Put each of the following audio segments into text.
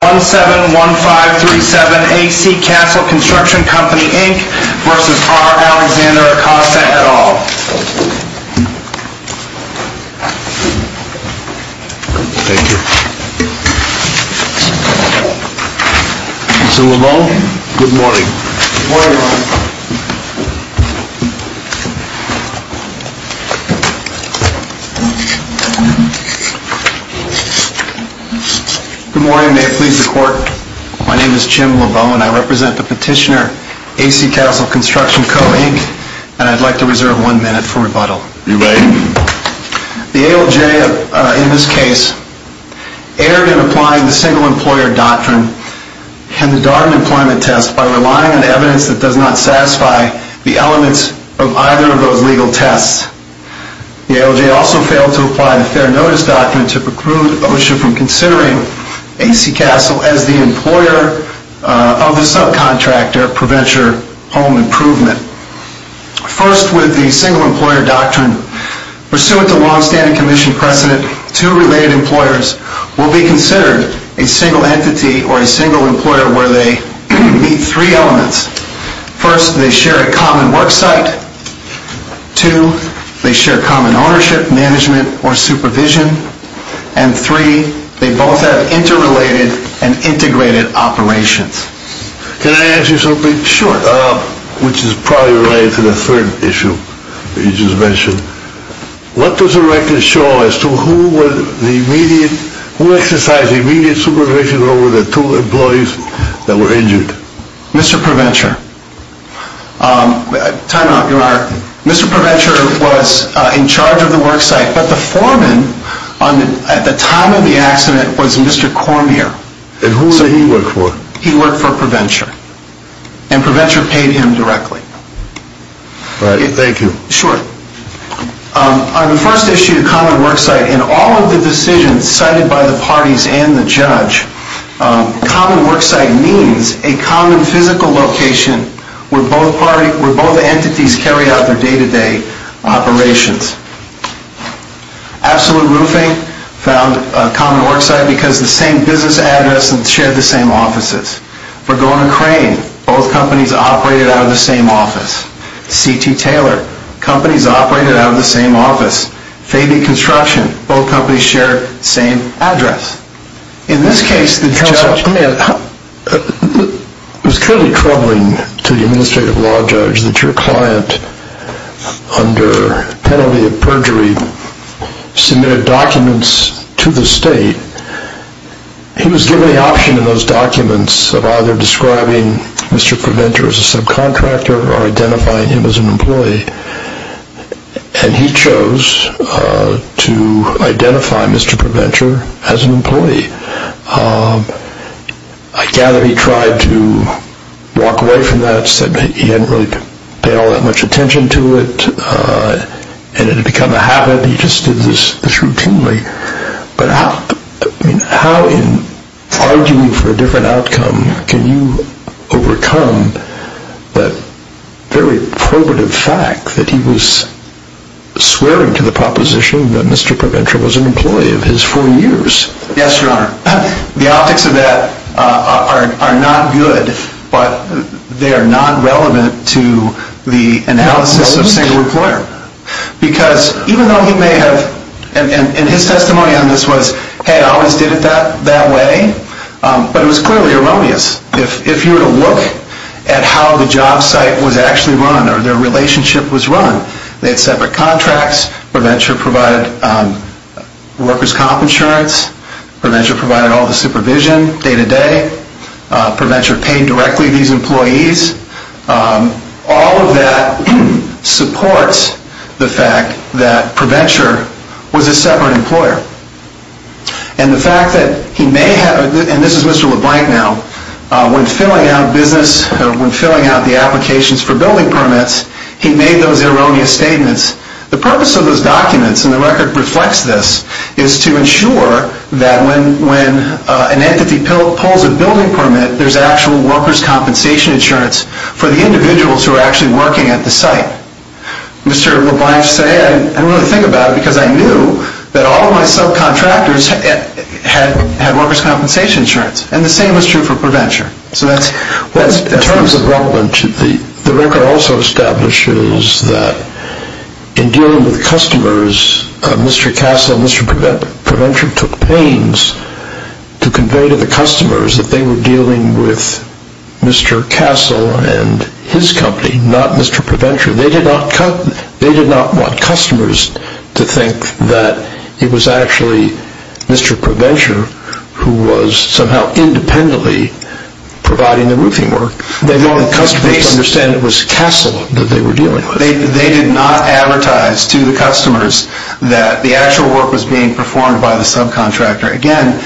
1-7-1-5-3-7 A.C. Castle Construction Co. Inc. v. R. Alexander Acosta, et al. Thank you. Mr. LeVault, good morning. Good morning. Good morning. May it please the Court, my name is Jim LeVault and I represent the petitioner, A.C. Castle Construction Co. Inc., and I'd like to reserve one minute for rebuttal. You may. The ALJ, in this case, erred in applying the Single Employer Doctrine and the Darden Employment Test by relying on evidence that does not satisfy the elements of either of those legal tests. The ALJ also failed to apply the Fair Notice Doctrine to preclude OSHA from considering A.C. Castle as the employer of the subcontractor for venture home improvement. First, with the Single Employer Doctrine, pursuant to long-standing Commission precedent, two related employers will be considered a single entity or a single employer where they meet three elements. First, they share a common work site. Two, they share common ownership, management, or supervision. And three, they both have interrelated and integrated operations. Can I ask you something? Sure. Which is probably related to the third issue that you just mentioned. What does the record show as to who exercised immediate supervision over the two employees that were injured? Mr. ProVenture. Time out, your honor. Mr. ProVenture was in charge of the work site, but the foreman at the time of the accident was Mr. Cormier. And who did he work for? He worked for ProVenture. And ProVenture paid him directly. Thank you. Sure. On the first issue, common work site, in all of the decisions cited by the parties and the judge, common work site means a common physical location where both entities carry out their day-to-day operations. Absolute Roofing found a common work site because the same business address and shared the same offices. Vergona Crane, both companies operated out of the same office. C.T. Taylor, companies operated out of the same office. Fabian Construction, both companies shared the same address. In this case, the judge was clearly troubling to the administrative law judge that your client, under penalty of perjury, submitted documents to the state. He was given the option in those documents of either describing Mr. ProVenture as a subcontractor or identifying him as an employee. And he chose to identify Mr. ProVenture as an employee. I gather he tried to walk away from that, said he hadn't really paid all that much attention to it and it had become a habit. He just did this routinely. But how in arguing for a different outcome can you overcome the very probative fact that he was swearing to the proposition that Mr. ProVenture was an employee of his four years? Yes, Your Honor. The optics of that are not good, but they are not relevant to the analysis of single employer. Because even though he may have, and his testimony on this was, hey, I always did it that way, but it was clearly erroneous. If you were to look at how the job site was actually run or their relationship was run, they had separate contracts. ProVenture provided workers' comp insurance. ProVenture provided all the supervision day to day. ProVenture paid directly these employees. All of that supports the fact that ProVenture was a separate employer. And the fact that he may have, and this is Mr. LeBlanc now, when filling out the applications for building permits, he made those erroneous statements. The purpose of those documents, and the record reflects this, is to ensure that when an entity pulls a building permit, there's actual workers' compensation insurance for the individuals who are actually working at the site. Mr. LeBlanc said, I don't really think about it because I knew that all of my subcontractors had workers' compensation insurance, and the same was true for ProVenture. In terms of Rutland, the record also establishes that in dealing with customers, Mr. Castle and Mr. ProVenture took pains to convey to the customers that they were dealing with Mr. Castle and his company, not Mr. ProVenture. They did not want customers to think that it was actually Mr. ProVenture who was somehow independently providing the roofing work. They wanted customers to understand that it was Castle that they were dealing with. They did not advertise to the customers that the actual work was being performed by the subcontractor. Again,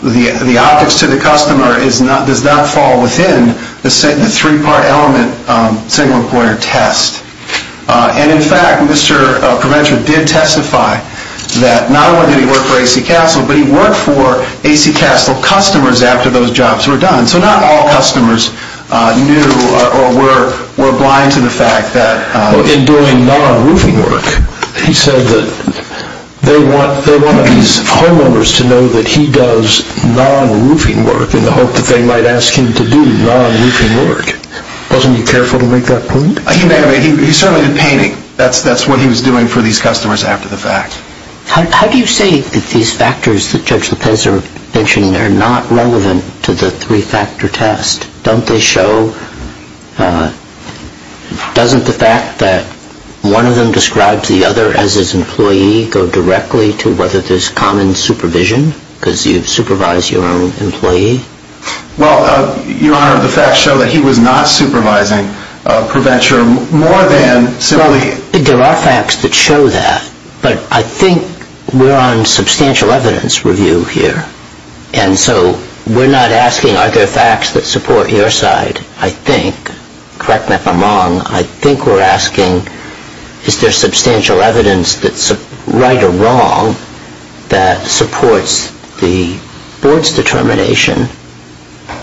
the optics to the customer does not fall within the three-part element single-employer test. In fact, Mr. ProVenture did testify that not only did he work for A.C. Castle, but he worked for A.C. Castle customers after those jobs were done. So not all customers knew or were blind to the fact that... In doing non-roofing work, he said that they want these homeowners to know that he does non-roofing work in the hope that they might ask him to do non-roofing work. Wasn't he careful to make that point? He certainly did painting. That's what he was doing for these customers after the fact. How do you say that these factors that Judge Lopez is mentioning are not relevant to the three-factor test? Doesn't the fact that one of them describes the other as his employee go directly to whether there's common supervision because you supervise your own employee? Well, Your Honor, the facts show that he was not supervising ProVenture more than simply... There are facts that show that, but I think we're on substantial evidence review here. And so we're not asking are there facts that support your side, I think. Correct me if I'm wrong. I think we're asking is there substantial evidence that's right or wrong that supports the board's determination?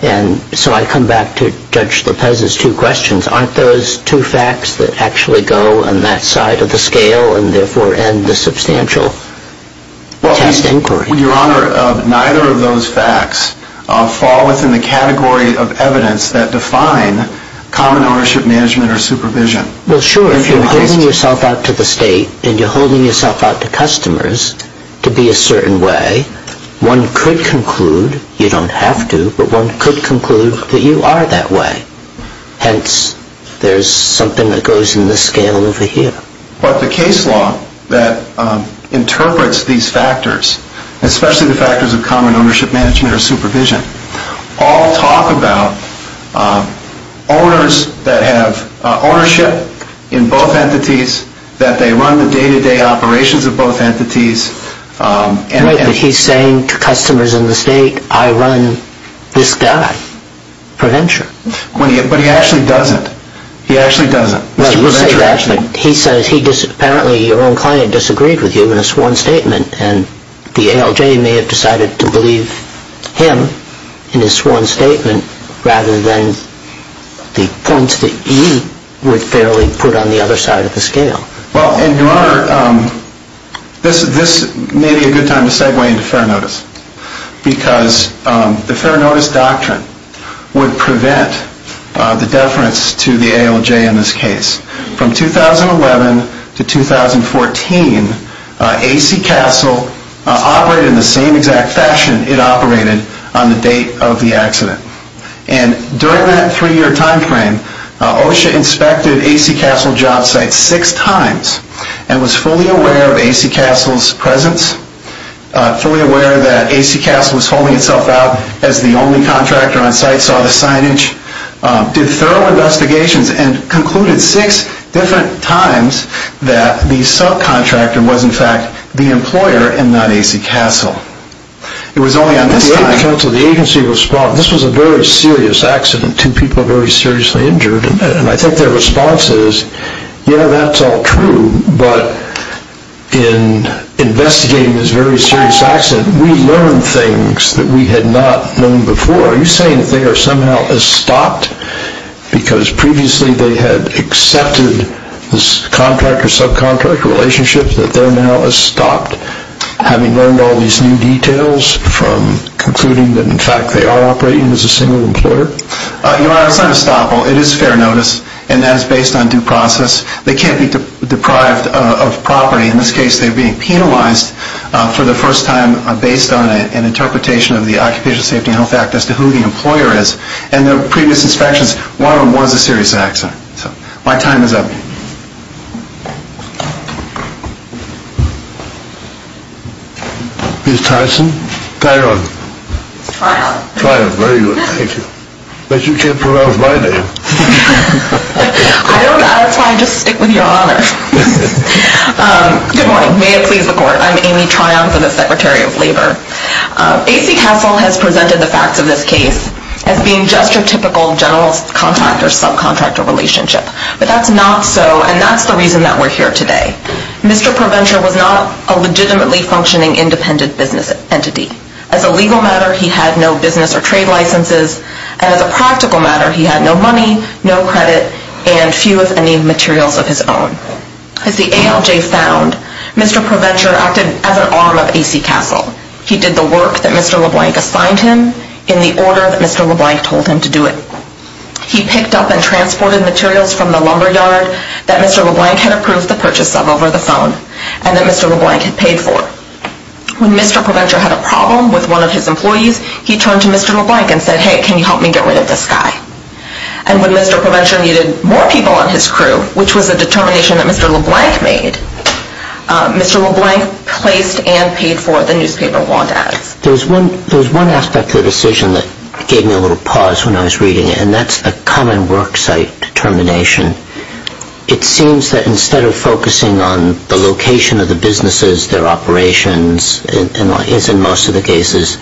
And so I come back to Judge Lopez's two questions. Aren't those two facts that actually go on that side of the scale and therefore end the substantial test inquiry? Your Honor, neither of those facts fall within the category of evidence that define common ownership management or supervision. Well, sure, if you're holding yourself out to the state and you're holding yourself out to customers to be a certain way, one could conclude, you don't have to, but one could conclude that you are that way. Hence, there's something that goes in the scale over here. But the case law that interprets these factors, especially the factors of common ownership management or supervision, all talk about owners that have ownership in both entities, that they run the day-to-day operations of both entities... Right, that he's saying to customers in the state, I run this guy, ProVenture. But he actually doesn't. He actually doesn't. Well, you say that, but he says apparently your own client disagreed with you in a sworn statement, and the ALJ may have decided to believe him in his sworn statement rather than the points that he would fairly put on the other side of the scale. Well, Your Honor, this may be a good time to segue into fair notice, because the fair notice doctrine would prevent the deference to the ALJ in this case. From 2011 to 2014, AC Castle operated in the same exact fashion it operated on the date of the accident. And during that three-year time frame, OSHA inspected AC Castle job sites six times and was fully aware of AC Castle's presence, fully aware that AC Castle was holding itself out as the only contractor on site, saw the signage, did thorough investigations, and concluded six different times that the subcontractor was in fact the employer and not AC Castle. It was only on this day that the agency responded. This was a very serious accident, two people very seriously injured, and I think their response is, yeah, that's all true, but in investigating this very serious accident, we learned things that we had not known before. Are you saying that they are somehow estopped because previously they had accepted this contract or subcontract relationship, that they're now estopped, having learned all these new details from concluding that in fact they are operating as a single employer? Your Honor, it's not estoppel. It is fair notice, and that is based on due process. They can't be deprived of property. In this case, they are being penalized for the first time based on an interpretation of the Occupational Safety and Health Act as to who the employer is. And the previous inspections, one of them was a serious accident. So my time is up. Ms. Tyson? Tyrone. Tyrone. Tyrone, very good. Thank you. But you can't pronounce my name. I don't know. That's fine. Just stick with your honor. Good morning. May it please the Court. I'm Amy Tryon for the Secretary of Labor. A.C. Castle has presented the facts of this case as being just your typical general contract or subcontractor relationship. But that's not so, and that's the reason that we're here today. Mr. Provencher was not a legitimately functioning independent business entity. As a legal matter, he had no business or trade licenses. And as a practical matter, he had no money, no credit, and few, if any, materials of his own. As the ALJ found, Mr. Provencher acted as an arm of A.C. Castle. He did the work that Mr. LeBlanc assigned him in the order that Mr. LeBlanc told him to do it. He picked up and transported materials from the lumberyard that Mr. LeBlanc had approved the purchase of over the phone and that Mr. LeBlanc had paid for. When Mr. Provencher had a problem with one of his employees, he turned to Mr. LeBlanc and said, Hey, can you help me get rid of this guy? And when Mr. Provencher needed more people on his crew, which was a determination that Mr. LeBlanc made, Mr. LeBlanc placed and paid for the newspaper wall dads. There's one aspect of the decision that gave me a little pause when I was reading it, and that's a common worksite determination. It seems that instead of focusing on the location of the businesses, their operations, as in most of the cases,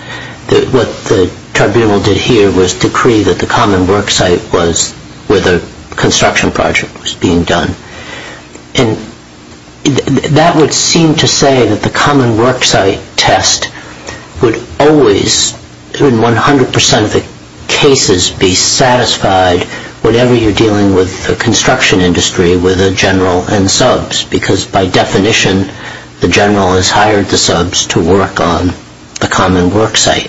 what the tribunal did here was decree that the common worksite was where the construction project was being done. And that would seem to say that the common worksite test would always, in 100% of the cases, be satisfied whatever you're dealing with the construction industry with a general and subs, because by definition, the general has hired the subs to work on the common worksite.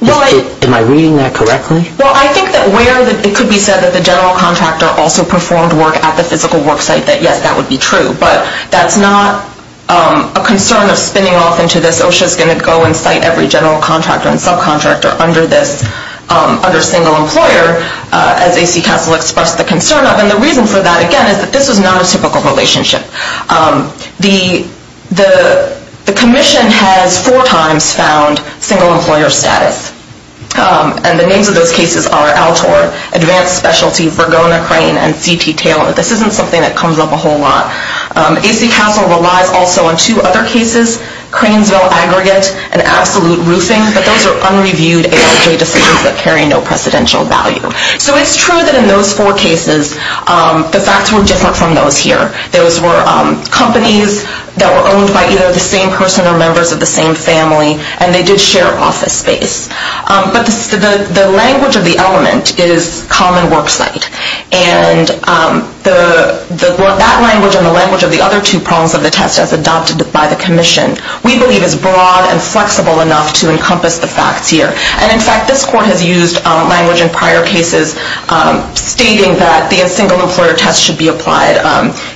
Am I reading that correctly? Well, I think that where it could be said that the general contractor also performed work at the physical worksite, that yes, that would be true, but that's not a concern of spinning off into this. It's not just going to go and cite every general contractor and subcontractor under this, under single employer, as AC Castle expressed the concern of. And the reason for that, again, is that this was not a typical relationship. The commission has four times found single employer status. And the names of those cases are Altor, Advanced Specialty, Vergona Crane, and C.T. Taylor. This isn't something that comes up a whole lot. AC Castle relies also on two other cases, Cranesville Aggregate and Absolute Roofing, but those are unreviewed AIJ decisions that carry no precedential value. So it's true that in those four cases, the facts were different from those here. Those were companies that were owned by either the same person or members of the same family, and they did share office space. But the language of the element is common worksite. And that language and the language of the other two prongs of the test, as adopted by the commission, we believe is broad and flexible enough to encompass the facts here. And, in fact, this court has used language in prior cases stating that the single employer test should be applied.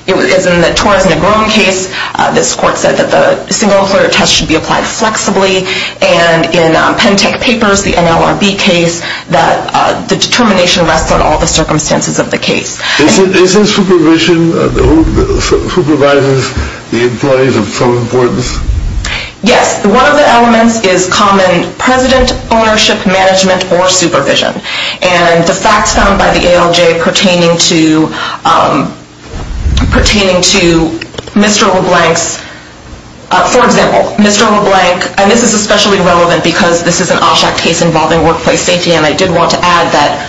In the Torres-Negron case, this court said that the single employer test should be applied flexibly. And in Pentec Papers, the NLRB case, that the determination rests on all the circumstances of the case. Is there supervision? Who supervises the employees of some importance? Yes. One of the elements is common president ownership, management, or supervision. And the facts found by the ALJ pertaining to Mr. LeBlanc's, for example, Mr. LeBlanc, and this is especially relevant because this is an OSHAC case involving workplace safety, and I did want to add that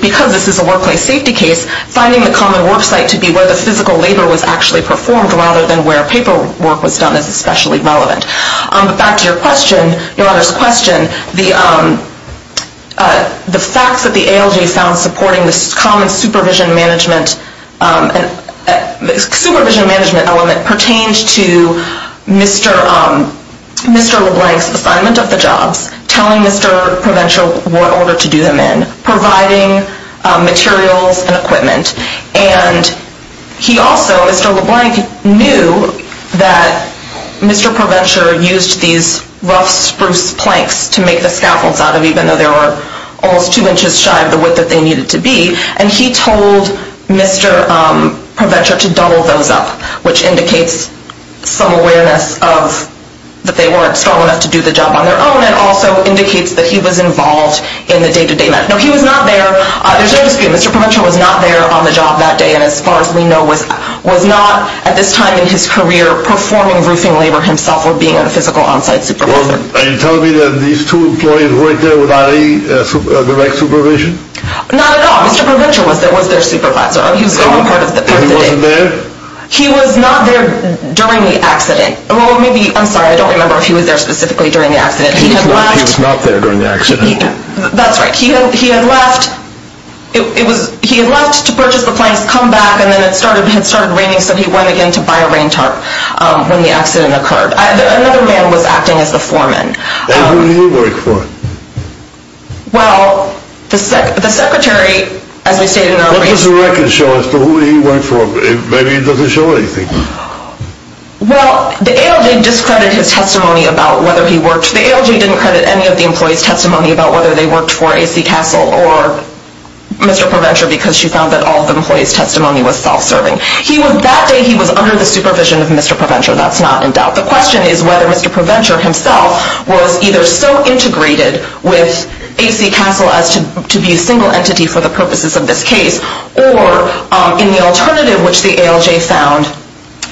because this is a workplace safety case, finding the common worksite to be where the physical labor was actually performed rather than where paperwork was done is especially relevant. But back to your question, Your Honor's question, the facts that the ALJ found supporting this common supervision management element pertained to Mr. LeBlanc's assignment of the jobs, telling Mr. Provencher what order to do them in, providing materials and equipment. And he also, Mr. LeBlanc, knew that Mr. Provencher used these rough spruce planks to make the scaffolds out of, even though they were almost two inches shy of the width that they needed to be, and he told Mr. Provencher to double those up, which indicates some awareness that they weren't strong enough to do the job on their own, and also indicates that he was involved in the day-to-day management. No, he was not there, Mr. Provencher was not there on the job that day, and as far as we know, was not at this time in his career performing roofing labor himself or being a physical on-site supervisor. Well, are you telling me that these two employees were there without any direct supervision? Not at all, Mr. Provencher was there, was their supervisor. He was gone part of the day. And he wasn't there? He was not there during the accident. Well, maybe, I'm sorry, I don't remember if he was there specifically during the accident. He was not there during the accident. That's right. He had left to purchase the planks, come back, and then it started raining, so he went again to buy a rain tarp when the accident occurred. Another man was acting as the foreman. And who did he work for? Well, the secretary, as we stated earlier... What does the record show as to who he worked for? Maybe it doesn't show anything. Well, the ALJ discredited his testimony about whether he worked. The ALJ didn't credit any of the employees' testimony about whether they worked for A.C. Castle or Mr. Provencher because she found that all of the employees' testimony was self-serving. That day he was under the supervision of Mr. Provencher, that's not in doubt. The question is whether Mr. Provencher himself was either so integrated with A.C. Castle as to be a single entity for the purposes of this case or, in the alternative which the ALJ found,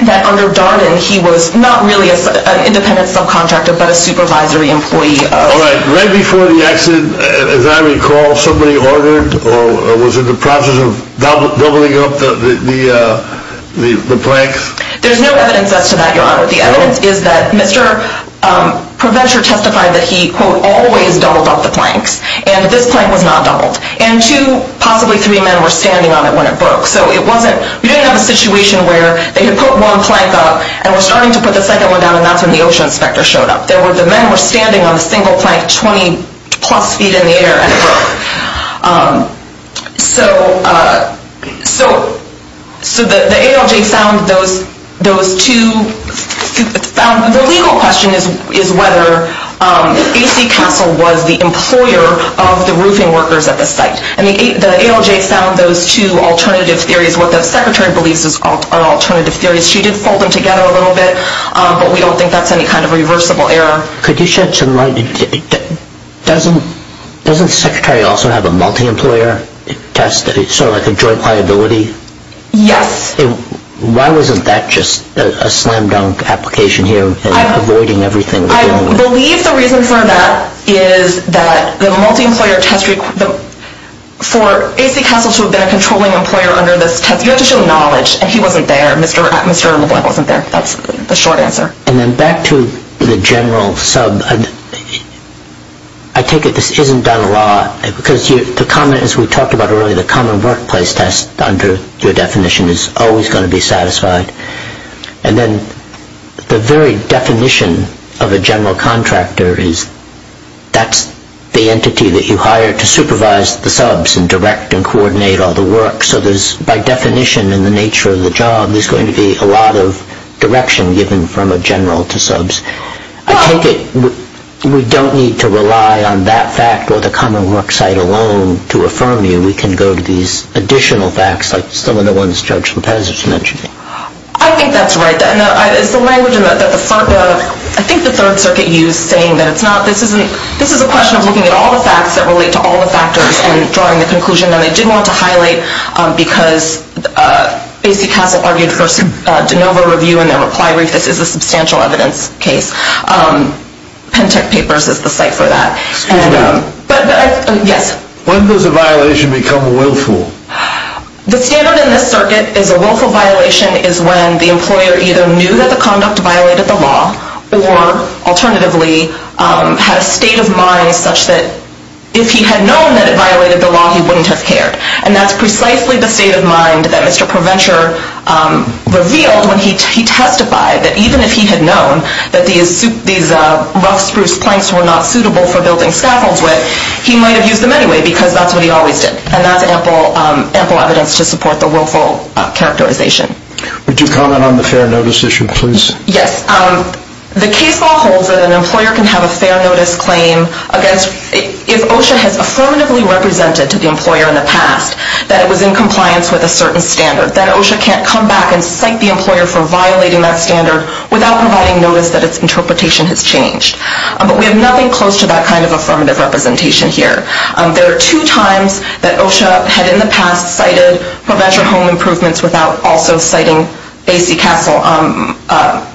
that under Darden he was not really an independent subcontractor but a supervisory employee. All right, right before the accident, as I recall, somebody ordered or was in the process of doubling up the planks? There's no evidence as to that, Your Honor. The evidence is that Mr. Provencher testified that he, quote, always doubled up the planks and this plank was not doubled. And two, possibly three men were standing on it when it broke. So we didn't have a situation where they had put one plank up and were starting to put the second one down and that's when the ocean inspector showed up. The men were standing on the single plank 20 plus feet in the air and it broke. So the ALJ found those two. The legal question is whether A.C. Castle was the employer of the roofing workers at the site. And the ALJ found those two alternative theories, what the Secretary believes are alternative theories. She did fold them together a little bit, but we don't think that's any kind of reversible error. Could you shed some light? Doesn't the Secretary also have a multi-employer test, sort of like a joint liability? Yes. Why wasn't that just a slam dunk application here, avoiding everything? I believe the reason for that is that the multi-employer test, for A.C. Castle to have been a controlling employer under this test, you have to show knowledge and he wasn't there, Mr. LaVoie wasn't there. That's the short answer. And then back to the general sub, I take it this isn't done a lot, because the common, as we talked about earlier, the common workplace test under your definition is always going to be satisfied. And then the very definition of a general contractor is that's the entity that you hire to supervise the subs and direct and coordinate all the work. So there's, by definition in the nature of the job, there's going to be a lot of direction given from a general to subs. I take it we don't need to rely on that fact or the common work site alone to affirm you. We can go to these additional facts, like some of the ones Judge Lopez was mentioning. I think that's right. It's the language that the, I think the Third Circuit used saying that it's not, this is a question of looking at all the facts that relate to all the factors and drawing the conclusion. And they did want to highlight, because Casey Castle argued for a de novo review in their reply brief, this is a substantial evidence case. Pentec Papers is the site for that. Excuse me. Yes. When does a violation become willful? The standard in this circuit is a willful violation is when the employer either knew that the conduct violated the law or alternatively had a state of mind such that if he had known that it violated the law, he wouldn't have cared. And that's precisely the state of mind that Mr. ProVenture revealed when he testified, that even if he had known that these rough spruce planks were not suitable for building scaffolds with, he might have used them anyway because that's what he always did. And that's ample evidence to support the willful characterization. Would you comment on the fair notice issue, please? Yes. The case law holds that an employer can have a fair notice claim against, if OSHA has affirmatively represented to the employer in the past that it was in compliance with a certain standard, that OSHA can't come back and cite the employer for violating that standard without providing notice that its interpretation has changed. But we have nothing close to that kind of affirmative representation here. There are two times that OSHA had in the past cited ProVenture home improvements without also citing Casey Castle.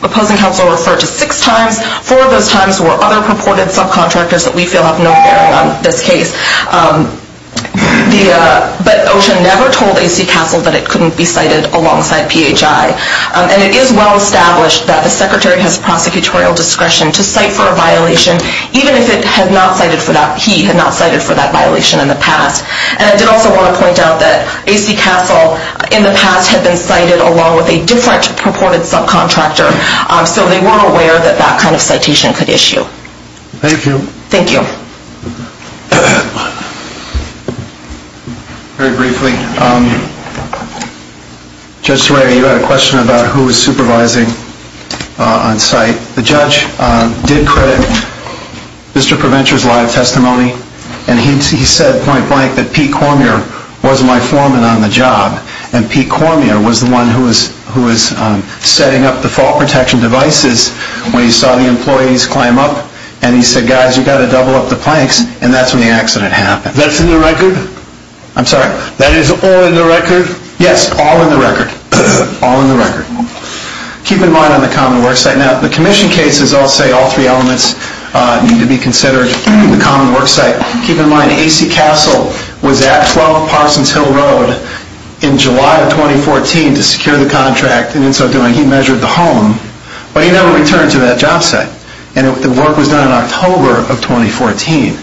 Opposing counsel referred to six times. Four of those times were other purported subcontractors that we feel have no bearing on this case. But OSHA never told Casey Castle that it couldn't be cited alongside PHI. And it is well established that the secretary has prosecutorial discretion to cite for a violation, even if he had not cited for that violation in the past. And I did also want to point out that Casey Castle, in the past, had been cited along with a different purported subcontractor. So they weren't aware that that kind of citation could issue. Thank you. Thank you. Very briefly, Judge Soraya, you had a question about who was supervising on site. The judge did credit Mr. ProVenture's live testimony, and he said point blank that Pete Cormier was my foreman on the job, and Pete Cormier was the one who was setting up the fault protection devices when he saw the employees climb up, and he said, guys, you've got to double up the planks, and that's when the accident happened. That's in the record? I'm sorry. That is all in the record? Yes, all in the record. All in the record. Keep in mind on the common work site. Now, the commission cases, I'll say all three elements need to be considered in the common work site. Keep in mind AC Castle was at 12 Parsons Hill Road in July of 2014 to secure the contract, and in so doing he measured the home, but he never returned to that job site, and the work was done in October of 2014.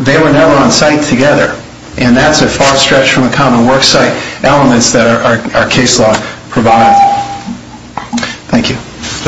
They were never on site together, and that's a far stretch from the common work site elements that our case law provided. Thank you. Thank you.